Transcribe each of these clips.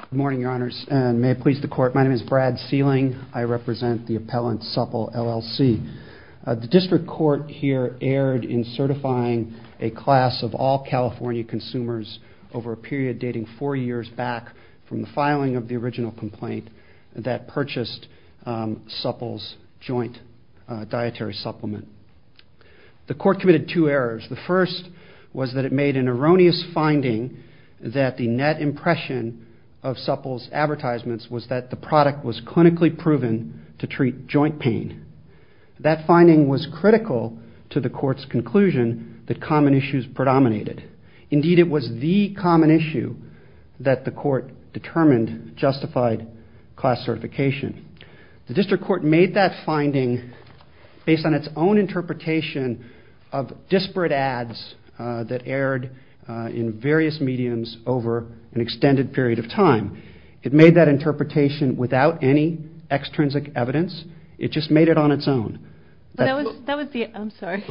Good morning, your honors, and may it please the court, my name is Brad Sealing. I represent the appellant Supple LLC. The district court here erred in certifying a class of all California consumers over a period dating four years back from the filing of the original complaint that purchased Supple's joint dietary supplement. The court committed two errors. The first was that it made an erroneous finding that the net impression of Supple's advertisements was that the product was clinically proven to treat joint pain. That finding was critical to the court's conclusion that common issues predominated. Indeed, it was the common issue that the court determined justified class certification. The district court made that error that erred in various mediums over an extended period of time. It made that interpretation without any extrinsic evidence. It just made it on its own. That was the, I'm sorry,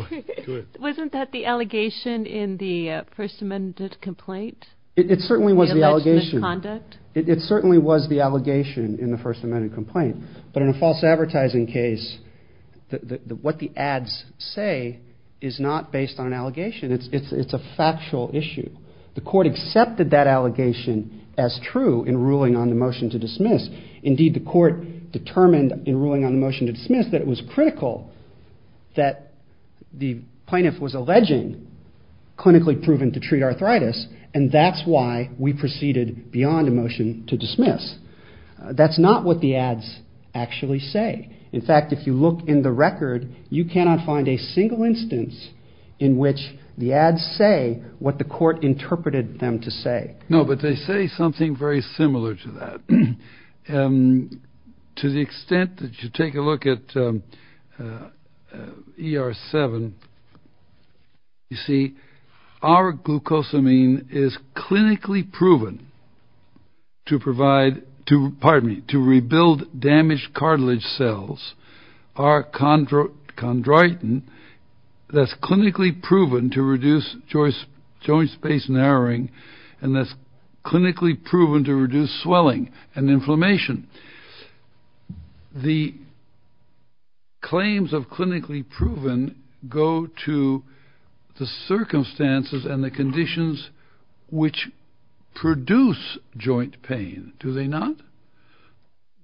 wasn't that the allegation in the First Amendment complaint? It certainly was the allegation. The alleged misconduct? It certainly was the allegation in the First Amendment complaint, but in a false advertising case, what the ads say is not based on an allegation. It's a factual issue. The court accepted that allegation as true in ruling on the motion to dismiss. Indeed, the court determined in ruling on the motion to dismiss that it was critical that the plaintiff was alleging clinically proven to treat arthritis, and that's why we proceeded beyond the motion to dismiss. That's not what the ads actually say. In fact, if you look in the record, you cannot find a single instance in which the ads say what the court interpreted them to say. No, but they say something very similar to that. To the extent that you take a look at ER-7, you see, R-glucosamine is clinically proven to treat arthritis. It's clinically to provide, pardon me, to rebuild damaged cartilage cells. R-chondroitin, that's clinically proven to reduce joint space narrowing, and that's clinically proven to reduce swelling and inflammation. The claims of clinically proven go to the circumstances and the conditions which produce joint pain, do they not?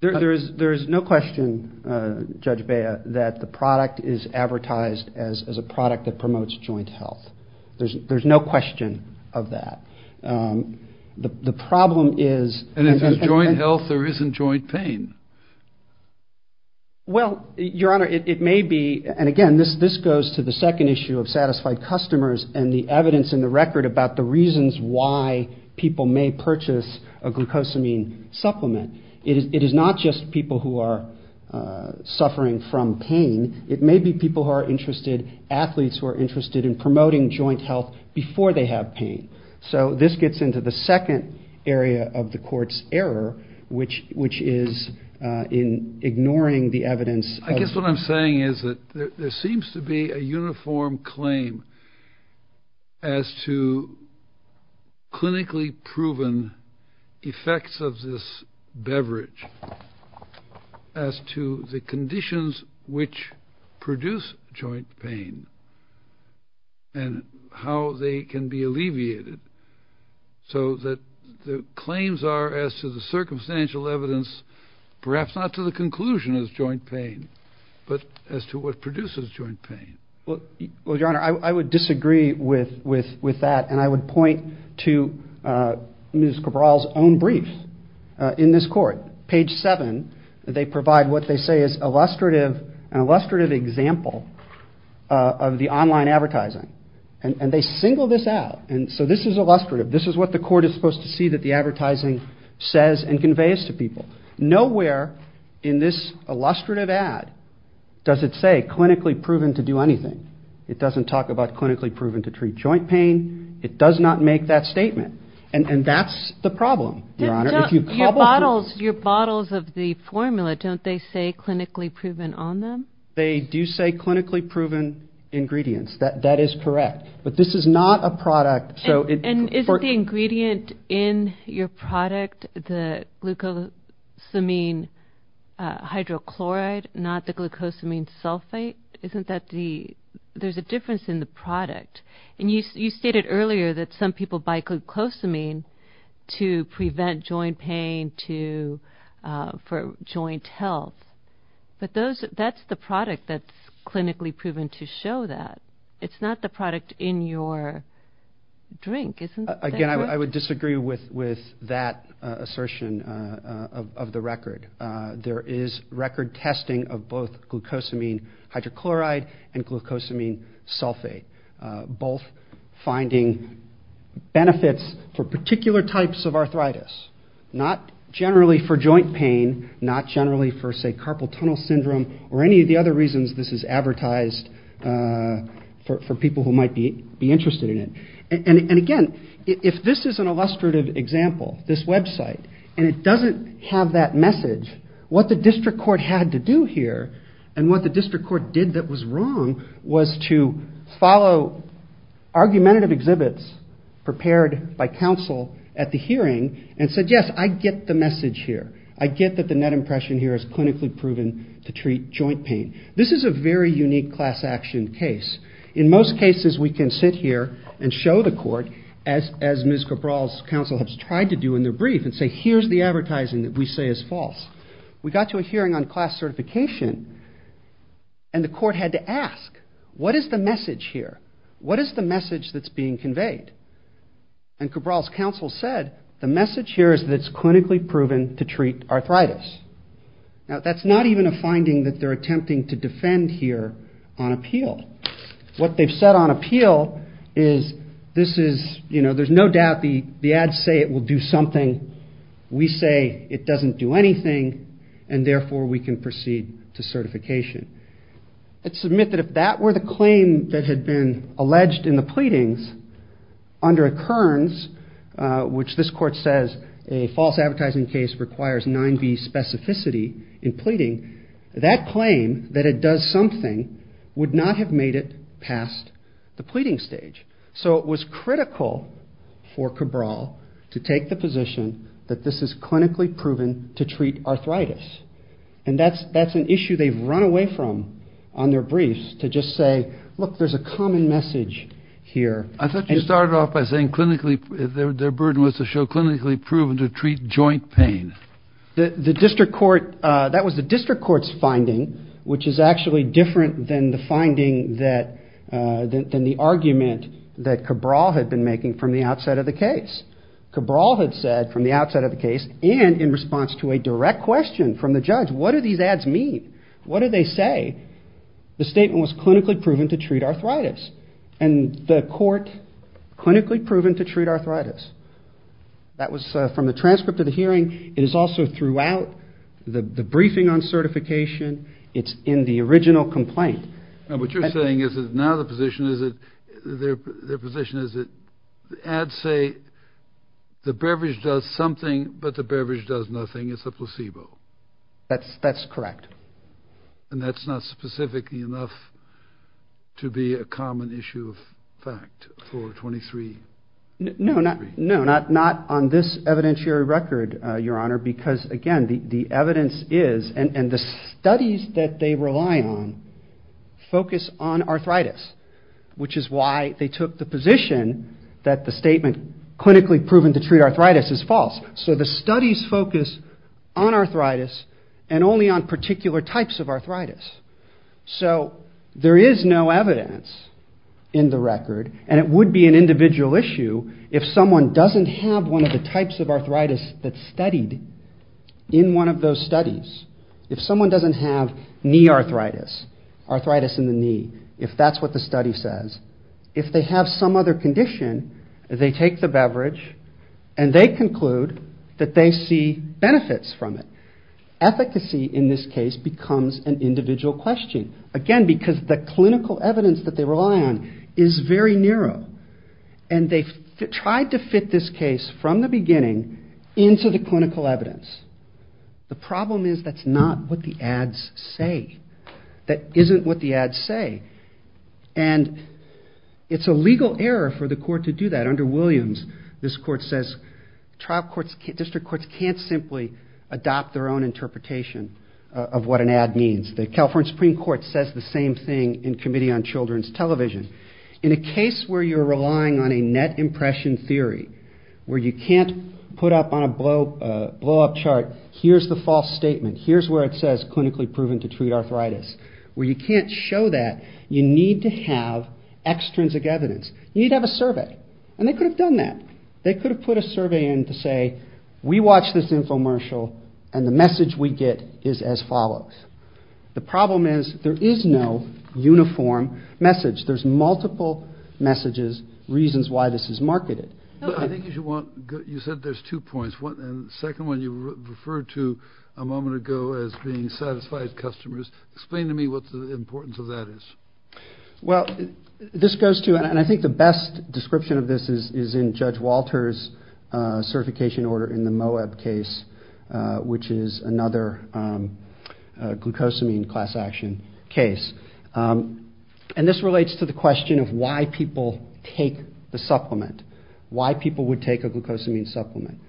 There's no question, Judge Bea, that the product is advertised as a product that promotes joint health. There's no question of that. The problem is- And if it's joint health, there isn't joint pain. Well, Your Honor, it may be, and again, this goes to the second issue of satisfied customers and the evidence in the record about the reasons why people may purchase a glucosamine supplement. It is not just people who are suffering from pain. It may be people who are interested, athletes who are interested in promoting joint health before they have pain. So this gets into the second area of the court's error, which is in ignoring the evidence- I guess what I'm saying is that there seems to be a uniform claim as to clinically proven effects of this beverage as to the conditions which produce joint pain and how they can be alleviated so that the claims are as to the circumstantial evidence, perhaps not to the conclusion of joint pain, but as to what produces joint pain. Well, Your Honor, I would disagree with that, and I would point to Ms. Cabral's own briefs in this court. Page 7, they provide what they say is an illustrative example of the online advertising, and they single this out. So this is illustrative. This is what the court is supposed to see that the advertising says and conveys to people. Nowhere in this illustrative ad does it say clinically proven to do anything. It doesn't talk about clinically proven to treat joint pain. It does not make that statement, and that's the problem, Your Honor. Your bottles of the formula, don't they say clinically proven on them? They do say clinically proven ingredients. That is correct, but this is not a product- And isn't the ingredient in your product the glucosamine hydrochloride, not the glucosamine sulfate? Isn't that the- there's a difference in the product. And you stated earlier that some people buy glucosamine to prevent joint pain for joint health, but that's the product that's clinically proven to show that. It's not the product in your drink, isn't it? Again, I would disagree with that assertion of the record. There is record testing of both glucosamine hydrochloride and glucosamine sulfate, both finding benefits for particular types of arthritis, not generally for joint pain, not generally for, say, carpal tunnel syndrome, or any of the other reasons this is advertised for people who might be interested in it. And again, if this is an illustrative example, this website, and it doesn't have that message, what the district court had to do here, and what the district court did that was wrong, was to follow argumentative exhibits prepared by counsel at the hearing and said, yes, I get the message here. I get that the net impression here is clinically proven to treat joint pain. This is a very unique class action case. In most cases we can sit here and show the court, as Ms. Cabral's counsel has tried to do in their brief, and say, here's the advertising that we say is false. We got to a hearing on class certification, and the court had to ask, what is the message here? What is the message that's being conveyed? And Cabral's counsel said, the message here is that it's clinically proven to treat arthritis. Now, that's not even a finding that they're attempting to defend here on appeal. What they've said on appeal is, this is, you know, there's no doubt the ads say it will do something. We say it doesn't do anything, and therefore we can proceed to certification. Let's admit that if that were the claim that had been alleged in the pleadings, under occurrence, which this court says a false advertising case requires 9B specificity in pleading, that claim that it does something would not have made it past the pleading stage. So it was critical for Cabral to take the position that this is clinically proven to treat arthritis. And that's an issue they've run away from on their briefs, to just say, look, there's a common message here. I thought you started off by saying clinically, their burden was to show clinically proven to treat joint pain. The district court, that was the district court's finding, which is actually different than the finding that, than the argument that Cabral had been making from the outset of the case. Cabral had said from the outset of the case, and in response to a direct question from the judge, what do these ads mean? What do they say? The statement was clinically proven to treat arthritis. And the court, clinically proven to treat arthritis. That was from the transcript of the hearing. It is also throughout the briefing on certification. It's in the original complaint. Now what you're saying is that now the position is that, the ad say the beverage does something, but the beverage does nothing. It's a placebo. That's correct. And that's not specifically enough to be a common issue of fact for 23? No, not on this evidentiary record, Your Honor, because again, the evidence is, and the studies that they rely on, focus on arthritis, which is why they took the position that the statement does focus on arthritis and only on particular types of arthritis. So there is no evidence in the record, and it would be an individual issue if someone doesn't have one of the types of arthritis that's studied in one of those studies. If someone doesn't have knee arthritis, arthritis in the knee, if that's what the study says, if they have some other condition, they take the beverage and they conclude that they see benefits from it. Efficacy in this case becomes an individual question. Again, because the clinical evidence that they rely on is very narrow, and they've tried to fit this case from the beginning into the clinical evidence. The problem is that's not what the ads say. That isn't what the court to do that. Under Williams, this court says district courts can't simply adopt their own interpretation of what an ad means. The California Supreme Court says the same thing in Committee on Children's Television. In a case where you're relying on a net impression theory, where you can't put up on a blow-up chart, here's the false statement, here's where it says clinically proven to treat arthritis, where you can't show that, you need to have extrinsic evidence. You need to have a survey. And they could have done that. They could have put a survey in to say, we watched this infomercial and the message we get is as follows. The problem is there is no uniform message. There's multiple messages, reasons why this is marketed. I think you should want, you said there's two points. The second one you referred to a moment ago as being satisfied customers. Explain to me what the importance of that is. Well, this goes to, and I think the best description of this is in Judge Walter's certification order in the Moeb case, which is another glucosamine class action case. And this relates to the question of why people take the supplement, why people would take a glucosamine supplement.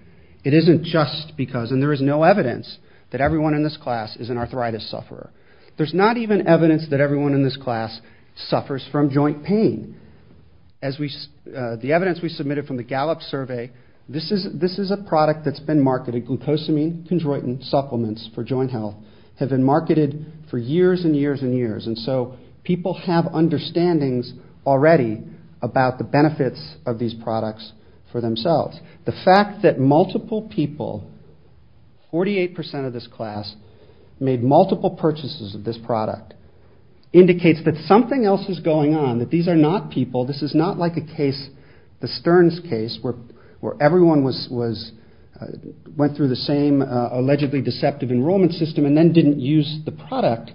It isn't just because, and there is no evidence that everyone in this class is an arthritis class, suffers from joint pain. As we, the evidence we submitted from the Gallup survey, this is a product that's been marketed, glucosamine, chondroitin supplements for joint health have been marketed for years and years and years. And so people have understandings already about the benefits of these products for themselves. The fact that multiple people, 48% of this class, made multiple purchases of this product indicates that something else is going on, that these are not people, this is not like a case, the Stearns case, where everyone went through the same allegedly deceptive enrollment system and then didn't use the product.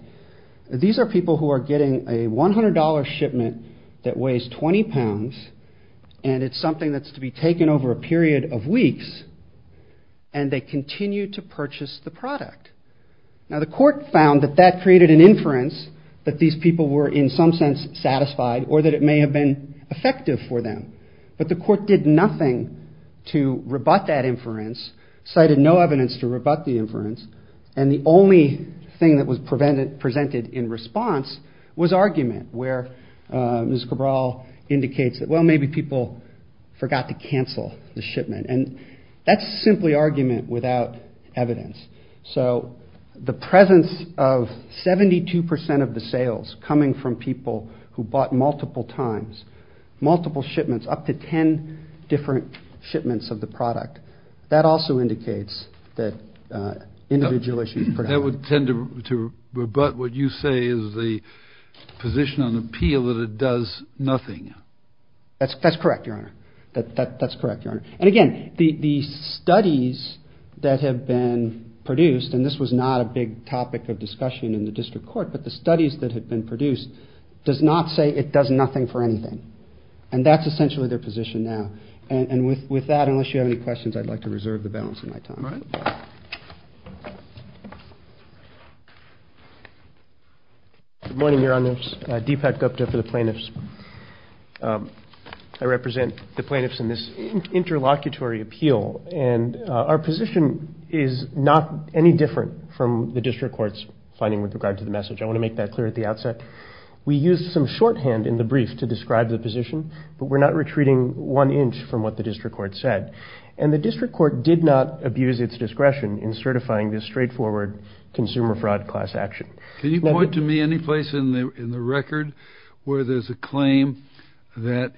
These are people who are getting a $100 shipment that weighs 20 pounds and it's something that's to be taken over a period of weeks and they didn't realize that these people were in some sense satisfied or that it may have been effective for them. But the court did nothing to rebut that inference, cited no evidence to rebut the inference, and the only thing that was presented in response was argument where Ms. Cabral indicates that, well, maybe people forgot to cancel the shipment. And that's simply argument without evidence. So the presence of 72% of the sales coming from people who bought multiple times, multiple shipments, up to 10 different shipments of the product, that also indicates that individual issues. That would tend to rebut what you say is the position on appeal that it does nothing. That's correct, Your Honor. That's correct, Your Honor. And again, the studies that have been produced, and this was not a big topic of discussion in the district court, but the studies that have been produced does not say it does nothing for anything. And that's essentially their position now. And with that, unless you have any questions, I'd like to reserve the balance of my time. Good morning, Your Honors. Deepak Gupta for the plaintiffs. I represent the plaintiffs in this interlocutory appeal, and our position is not any different from the district court's finding with regard to the message. I want to make that clear at the outset. We used some shorthand in the brief to describe the position, but we're not retreating one inch from what the district court said. And the district court did not abuse its discretion in certifying this straightforward consumer fraud class action. Can you point to me any place in the record where there's a claim that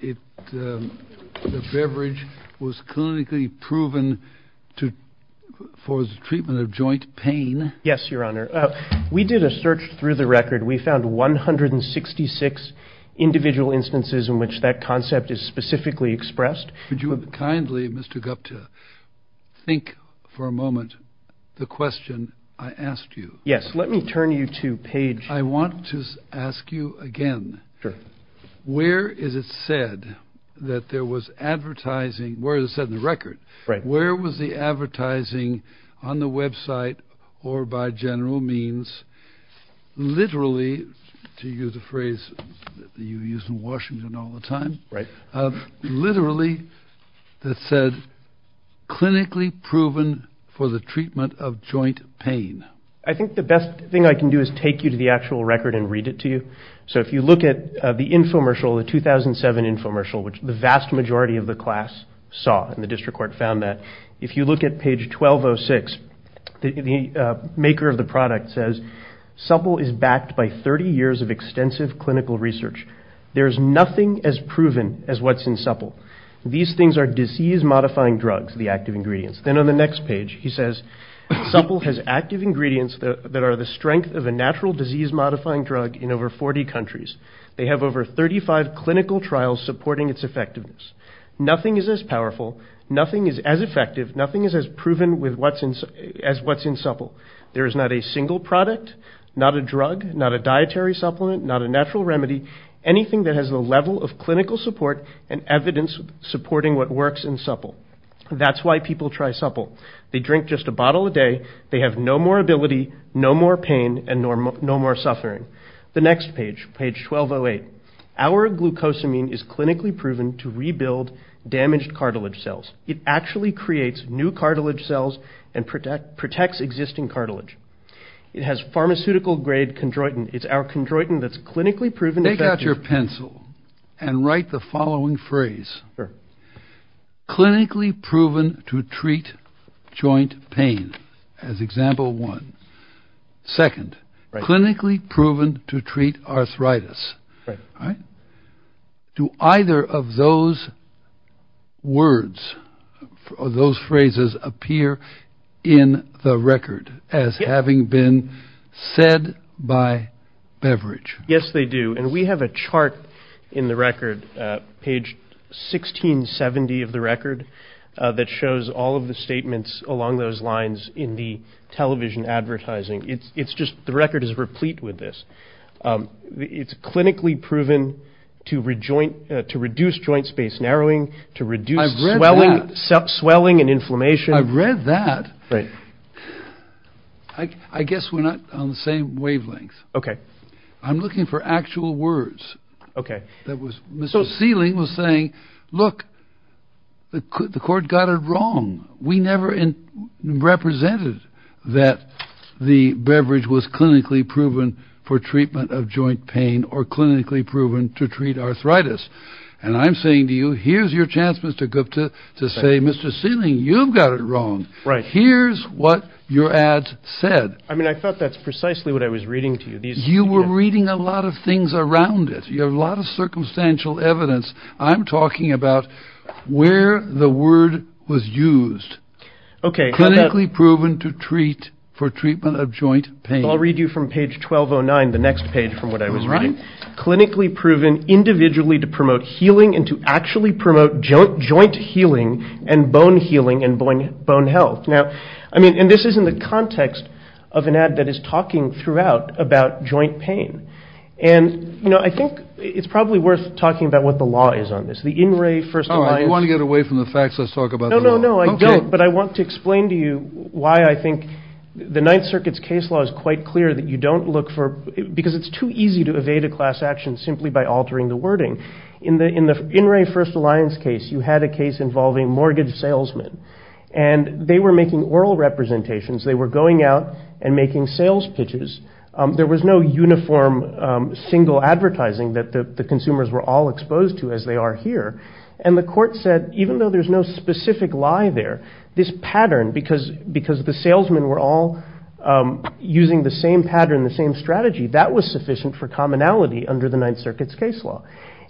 the beverage was clinically proven for the treatment of joint pain? Yes, Your Honor. We did a search through the record. We found 166 individual instances in which that concept is specifically expressed. Would you kindly, Mr. Gupta, think for a moment the question I asked you? Yes. Let me turn you to page... I want to ask you again, where is it said that there was advertising, where is it said in the record, where was the advertising on the website or by general means, literally, to use a phrase that you use in Washington all the time, literally that said, clinically proven for the treatment of joint pain? I think the best thing I can do is take you to the actual record and read it to you. So if you look at the infomercial, the 2007 infomercial, which the vast majority of the class saw, and the district court found that, if you look at page 1206, the maker of the product says, Supple is backed by 30 years of extensive clinical research. There is nothing as proven as what's in Supple. These things are disease-modifying drugs, the active ingredients. Then on the next page, he says, Supple has active ingredients that are the strength of a natural disease-modifying drug in over 40 countries. They have over 35 clinical trials supporting its effectiveness. Nothing is as powerful, nothing is as effective, nothing is as proven as what's in Supple. There is not a single product, not a drug, not a dietary supplement, not a natural remedy, anything that has the level of clinical support and evidence supporting what works in Supple. That's why people try Supple. They drink just a bottle a day. They have no more ability, no more pain, and no more suffering. The next page, page 1208. Our glucosamine is clinically proven to rebuild damaged cartilage cells. It actually creates new cartilage cells and protects existing cartilage. It has pharmaceutical grade chondroitin. It's our chondroitin that's clinically proven effective. Take out your pencil and write the following phrase. Sure. Clinically proven to treat joint pain, as example one. Second, clinically proven to treat arthritis. Do either of those words, or those phrases, appear in the record as having been said by Beveridge? Yes, they do. And we have a chart in the record, page 1670 of the record, that shows all of the statements along those lines in the television advertising. It's just, the record is replete with this. It's clinically proven to reduce joint space narrowing, to reduce swelling and inflammation. I've read that. I guess we're not on the same wavelength. I'm looking for actual words. So Sealing was saying, look, the court got it wrong. We never represented that the Beveridge was clinically proven for treatment of joint pain, or clinically proven to treat arthritis. And I'm saying to you, here's your chance, Mr. Gupta, to say, Mr. Sealing, you've got it wrong. Here's what your ad said. I mean, I thought that's precisely what I was reading to you. You were reading a lot of things around it. You have a lot of circumstantial evidence. I'm talking about where the word was used. Clinically proven to treat, for treatment of joint pain. I'll read you from page 1209, the next page from what I was reading. Clinically proven individually to promote healing and to actually promote joint healing and bone healing and bone health. Now, I mean, and this is in the context of an ad that is talking throughout about joint pain. And, you know, I think it's probably worth talking about what the law is on this. The In Re First Alliance. Oh, you want to get away from the facts? Let's talk about the law. No, I don't. But I want to explain to you why I think the Ninth Circuit's case law is quite clear that you don't look for, because it's too easy to evade a class action simply by altering the wording. In the In Re First Alliance case, you had a case involving mortgage salesmen and they were making oral representations. They were going out and making sales pitches. There was no uniform single advertising that the consumers were all exposed to as they are here. And the court said, even though there's no specific lie there, this pattern, because the salesmen were all using the same pattern, the same strategy, that was sufficient for commonality under the Ninth Circuit's case law.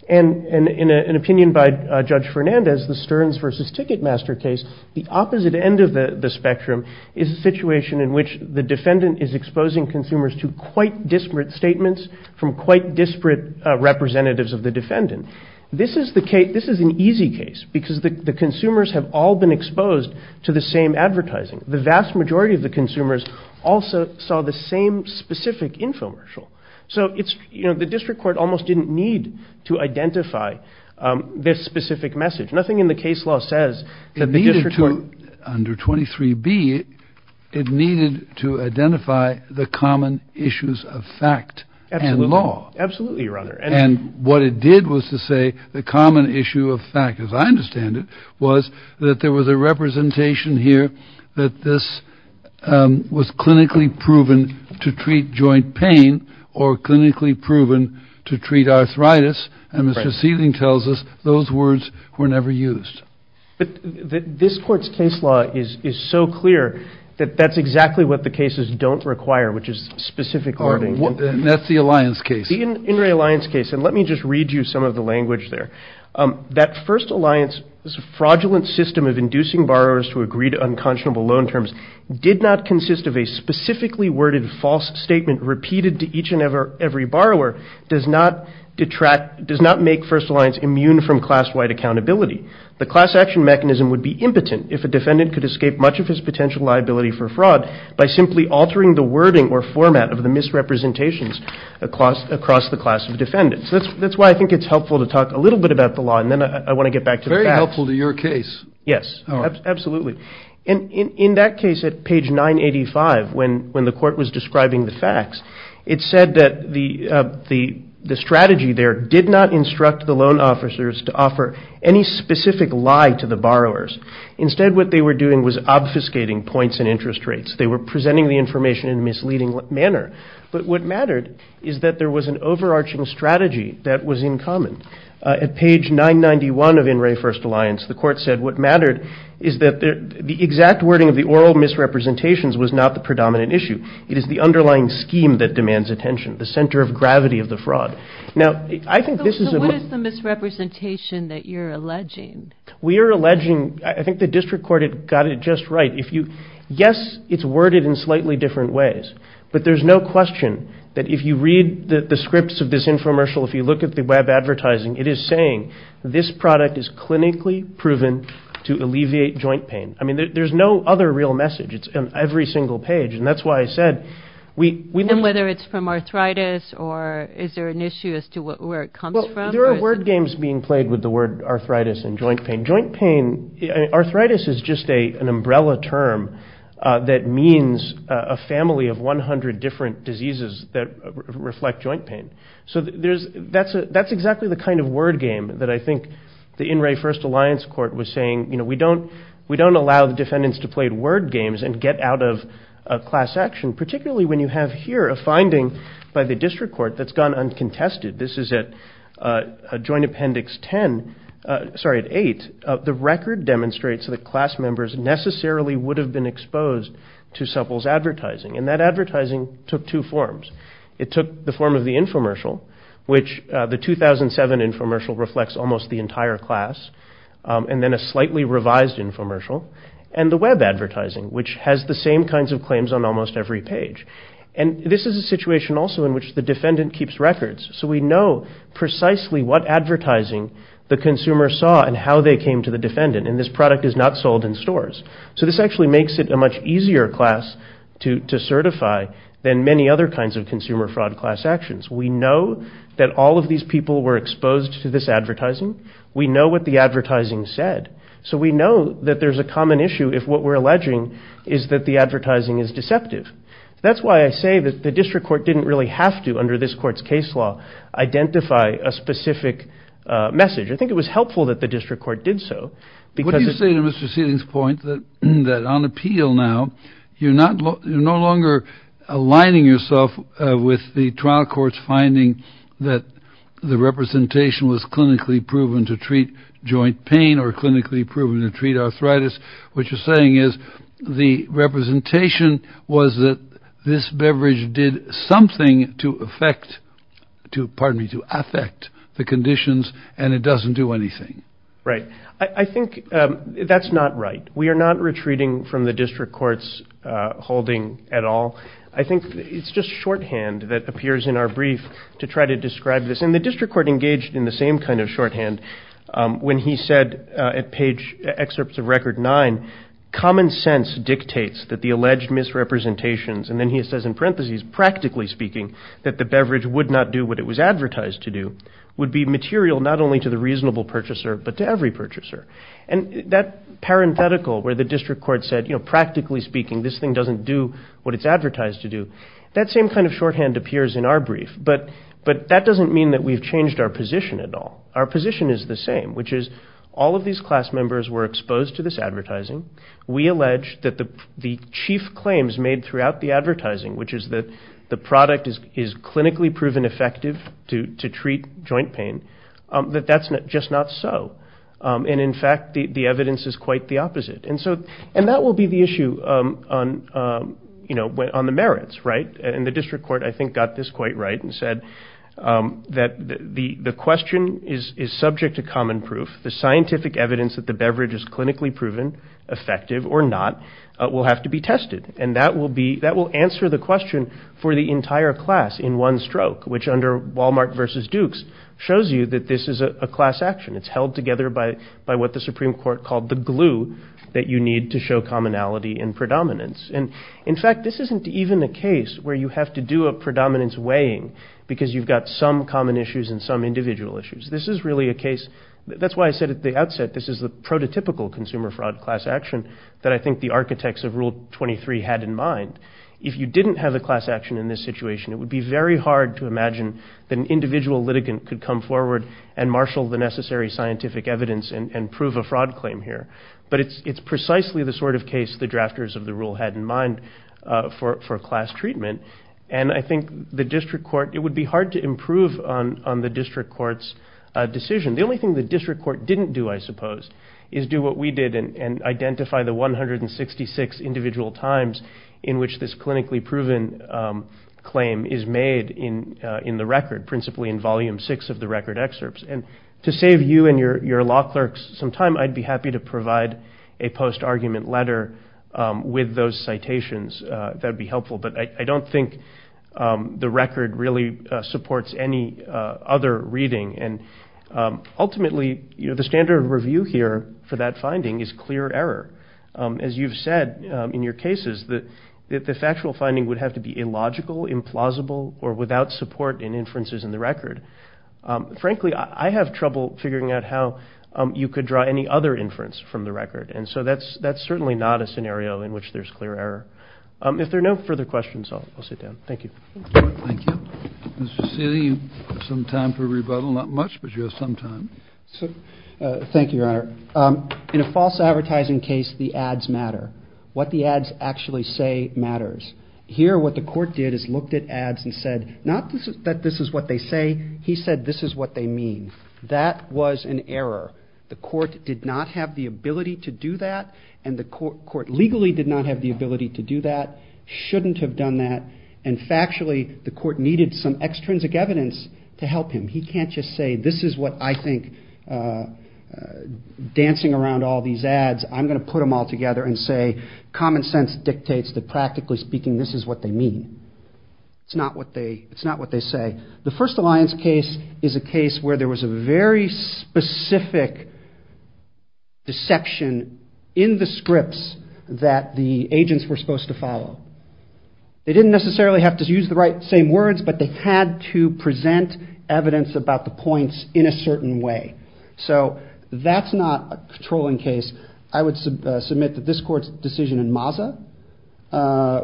And in an opinion by Judge Fernandez, the Stearns versus Ticketmaster case, the opposite end of the spectrum is a situation in which the defendant is exposing consumers to quite disparate statements from quite disparate representatives of the defendant. This is an easy case, because the consumers have all been exposed to the same advertising. The vast majority of the consumers also saw the same specific infomercial. So the district court almost didn't need to identify this specific message. Nothing in the case law says that the district court... Under 23B, it needed to identify the common issues of fact and law. Absolutely, Your Honor. And what it did was to say the common issue of fact, as I understand it, was that there was a representation here that this was clinically proven to treat joint pain or clinically proven to treat arthritis. And Mr. Seeling tells us those words were never used. This court's case law is so clear that that's exactly what the cases don't require, which is specific wording. And that's the Alliance case. The In re Alliance case, and let me just read you some of the language there. That First Alliance fraudulent system of inducing borrowers to agree to unconscionable loan terms did not consist of a specifically worded false statement repeated to each and every borrower does not make First Alliance immune from class-wide accountability. The class action mechanism would be impotent if a defendant could escape much of his potential liability for fraud by simply altering the wording or format of the misrepresentations across the class of defendants. That's why I think it's helpful to talk a little bit about the law, and then I want to get back to the facts. Very helpful to your case. Yes, absolutely. And in that case at page 985, when the court was describing the facts, it said that the strategy there did not instruct the loan officers to offer any specific lie to the borrowers. Instead, what they were doing was obfuscating points and interest rates. They were presenting the information in a misleading manner. But what mattered is that there was an overarching strategy that was in common. At page 991 of In re First Alliance, the court said what mattered is that the exact wording of the oral misrepresentations was not the predominant issue. It is the underlying scheme that demands attention, the center of gravity of the fraud. Now I think this is a... So what is the misrepresentation that you're alleging? We are alleging... I think the district court got it just right. Yes, it's worded in slightly different ways, but there's no question that if you read the scripts of this infomercial, if you look at the web advertising, it is saying this product is clinically proven to alleviate joint pain. I mean, there's no other real message. It's on every single page, and that's why I said we... And whether it's from arthritis, or is there an issue as to where it comes from? There are word games being played with the word arthritis and joint pain. Joint pain... Arthritis is just an umbrella term that means a family of 100 different diseases that reflect joint pain. So that's exactly the kind of word game that I think the In re First Alliance court was saying. We don't allow the defendants to play word games and get out of class action, particularly when you have here a finding by the district court that's gone uncontested. This is at Joint Appendix 10... Sorry, at 8. The record demonstrates that class members necessarily would have been exposed to Supple's advertising, and that advertising took two forms. It took the form of the infomercial, which the 2007 infomercial reflects almost the entire class, and then a slightly revised infomercial, and the web advertising, which has the same kinds of claims on almost every page. And this is a situation also in which the defendant keeps records, so we know precisely what advertising the consumer saw and how they came to the defendant, and this product is not sold in stores. So this actually makes it a much easier class to certify than many other kinds of consumer fraud class actions. We know that all of these people were exposed to this advertising. We know what the advertising said. So we know that there's a common issue if what we're alleging is that the advertising is deceptive. That's why I say that the district court didn't really have to, under this court's case law, identify a specific message. I think it was helpful that the district court did so, because... What do you say to Mr. Seelig's point that on appeal now, you're no longer aligning yourself with the trial court's finding that the representation was clinically proven to treat joint pain or clinically proven to treat arthritis. What you're saying is the representation was that this beverage did something to affect the conditions and it doesn't do anything. Right. I think that's not right. We are not retreating from the district court's holding at all. I think it's just shorthand that appears in our brief to try to describe this. And he said at page, excerpts of record nine, common sense dictates that the alleged misrepresentations, and then he says in parentheses, practically speaking, that the beverage would not do what it was advertised to do, would be material not only to the reasonable purchaser, but to every purchaser. And that parenthetical where the district court said, you know, practically speaking, this thing doesn't do what it's advertised to do. That same kind of shorthand appears in our brief, but that doesn't mean that we've changed our position at all. Our position is that all of these class members were exposed to this advertising. We allege that the chief claims made throughout the advertising, which is that the product is clinically proven effective to treat joint pain, that that's just not so. And in fact, the evidence is quite the opposite. And that will be the issue on the merits, right? And the district court, I think, got this quite right and said that the question is subject to common proof, the scientific evidence that the beverage is clinically proven effective or not will have to be tested. And that will be, that will answer the question for the entire class in one stroke, which under Walmart versus Dukes shows you that this is a class action. It's held together by what the Supreme Court called the glue that you need to show commonality and predominance. And in fact, this isn't even a case where you have to do a predominance weighing because you've got some common issues and some individual issues. This is really a case, that's why I said at the outset, this is the prototypical consumer fraud class action that I think the architects of Rule 23 had in mind. If you didn't have a class action in this situation, it would be very hard to imagine that an individual litigant could come forward and marshal the necessary scientific evidence and prove a fraud claim here. But it's precisely the sort of case the drafters of the rule had in mind for class treatment. And I think the district court, it would be hard to improve on the decision. The only thing the district court didn't do, I suppose, is do what we did and identify the 166 individual times in which this clinically proven claim is made in the record, principally in volume six of the record excerpts. And to save you and your law clerks some time, I'd be happy to provide a post-argument letter with those citations. That would be helpful. Ultimately, the standard review here for that finding is clear error. As you've said in your cases, the factual finding would have to be illogical, implausible, or without support in inferences in the record. Frankly, I have trouble figuring out how you could draw any other inference from the record. And so that's certainly not a scenario in which there's clear error. If there are no further questions, I'll sit down. Thank you. Thank you. Mr. Cecili, you have some time for rebuttal. Not much, but you have some time. Thank you, Your Honor. In a false advertising case, the ads matter. What the ads actually say matters. Here, what the court did is looked at ads and said, not that this is what they say, he said this is what they mean. That was an error. The court did not have the ability to do that, and the court legally did not have the ability to do that, shouldn't have done that, and factually the court needed some extrinsic evidence to help him. He can't just say this is what I think, dancing around all these ads, I'm going to put them all together and say common sense dictates that practically speaking this is what they mean. It's not what they say. The first alliance case is a case where there was a very specific deception in the scripts that the agents were supposed to follow. They didn't necessarily have to use the same words, but they had to present evidence about the points in a certain way. So that's not a controlling case. I would submit that this court's decision in Maza,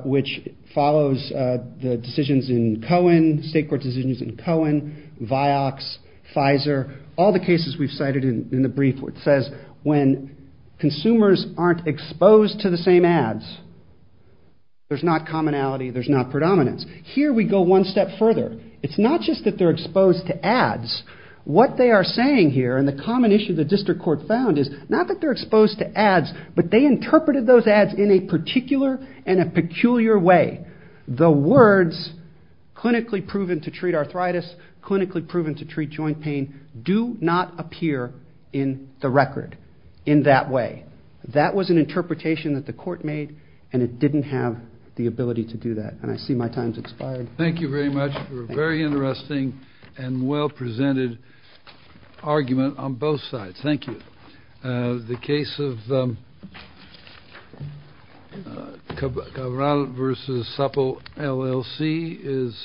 which follows the decisions in Cohen, state court decisions in Cohen, Vioxx, Pfizer, all the cases we've cited in the brief where it says when consumers aren't exposed to the same ads, there's not commonality, there's not predominance. Here we go one step further. It's not just that they're exposed to ads. What they are saying here, and the common issue the district court found is not that they're exposed to ads, but they interpreted those ads in a particular and a peculiar way. The words clinically proven to treat arthritis, clinically proven to treat joint pain do not appear in the record in that way. That was an interpretation that the court made, and it didn't have the ability to do that. And I see my time's expired. Thank you very much for a very interesting and well-presented argument on both sides. Thank you. The case of Cabral v. Supple, LLC is to the right.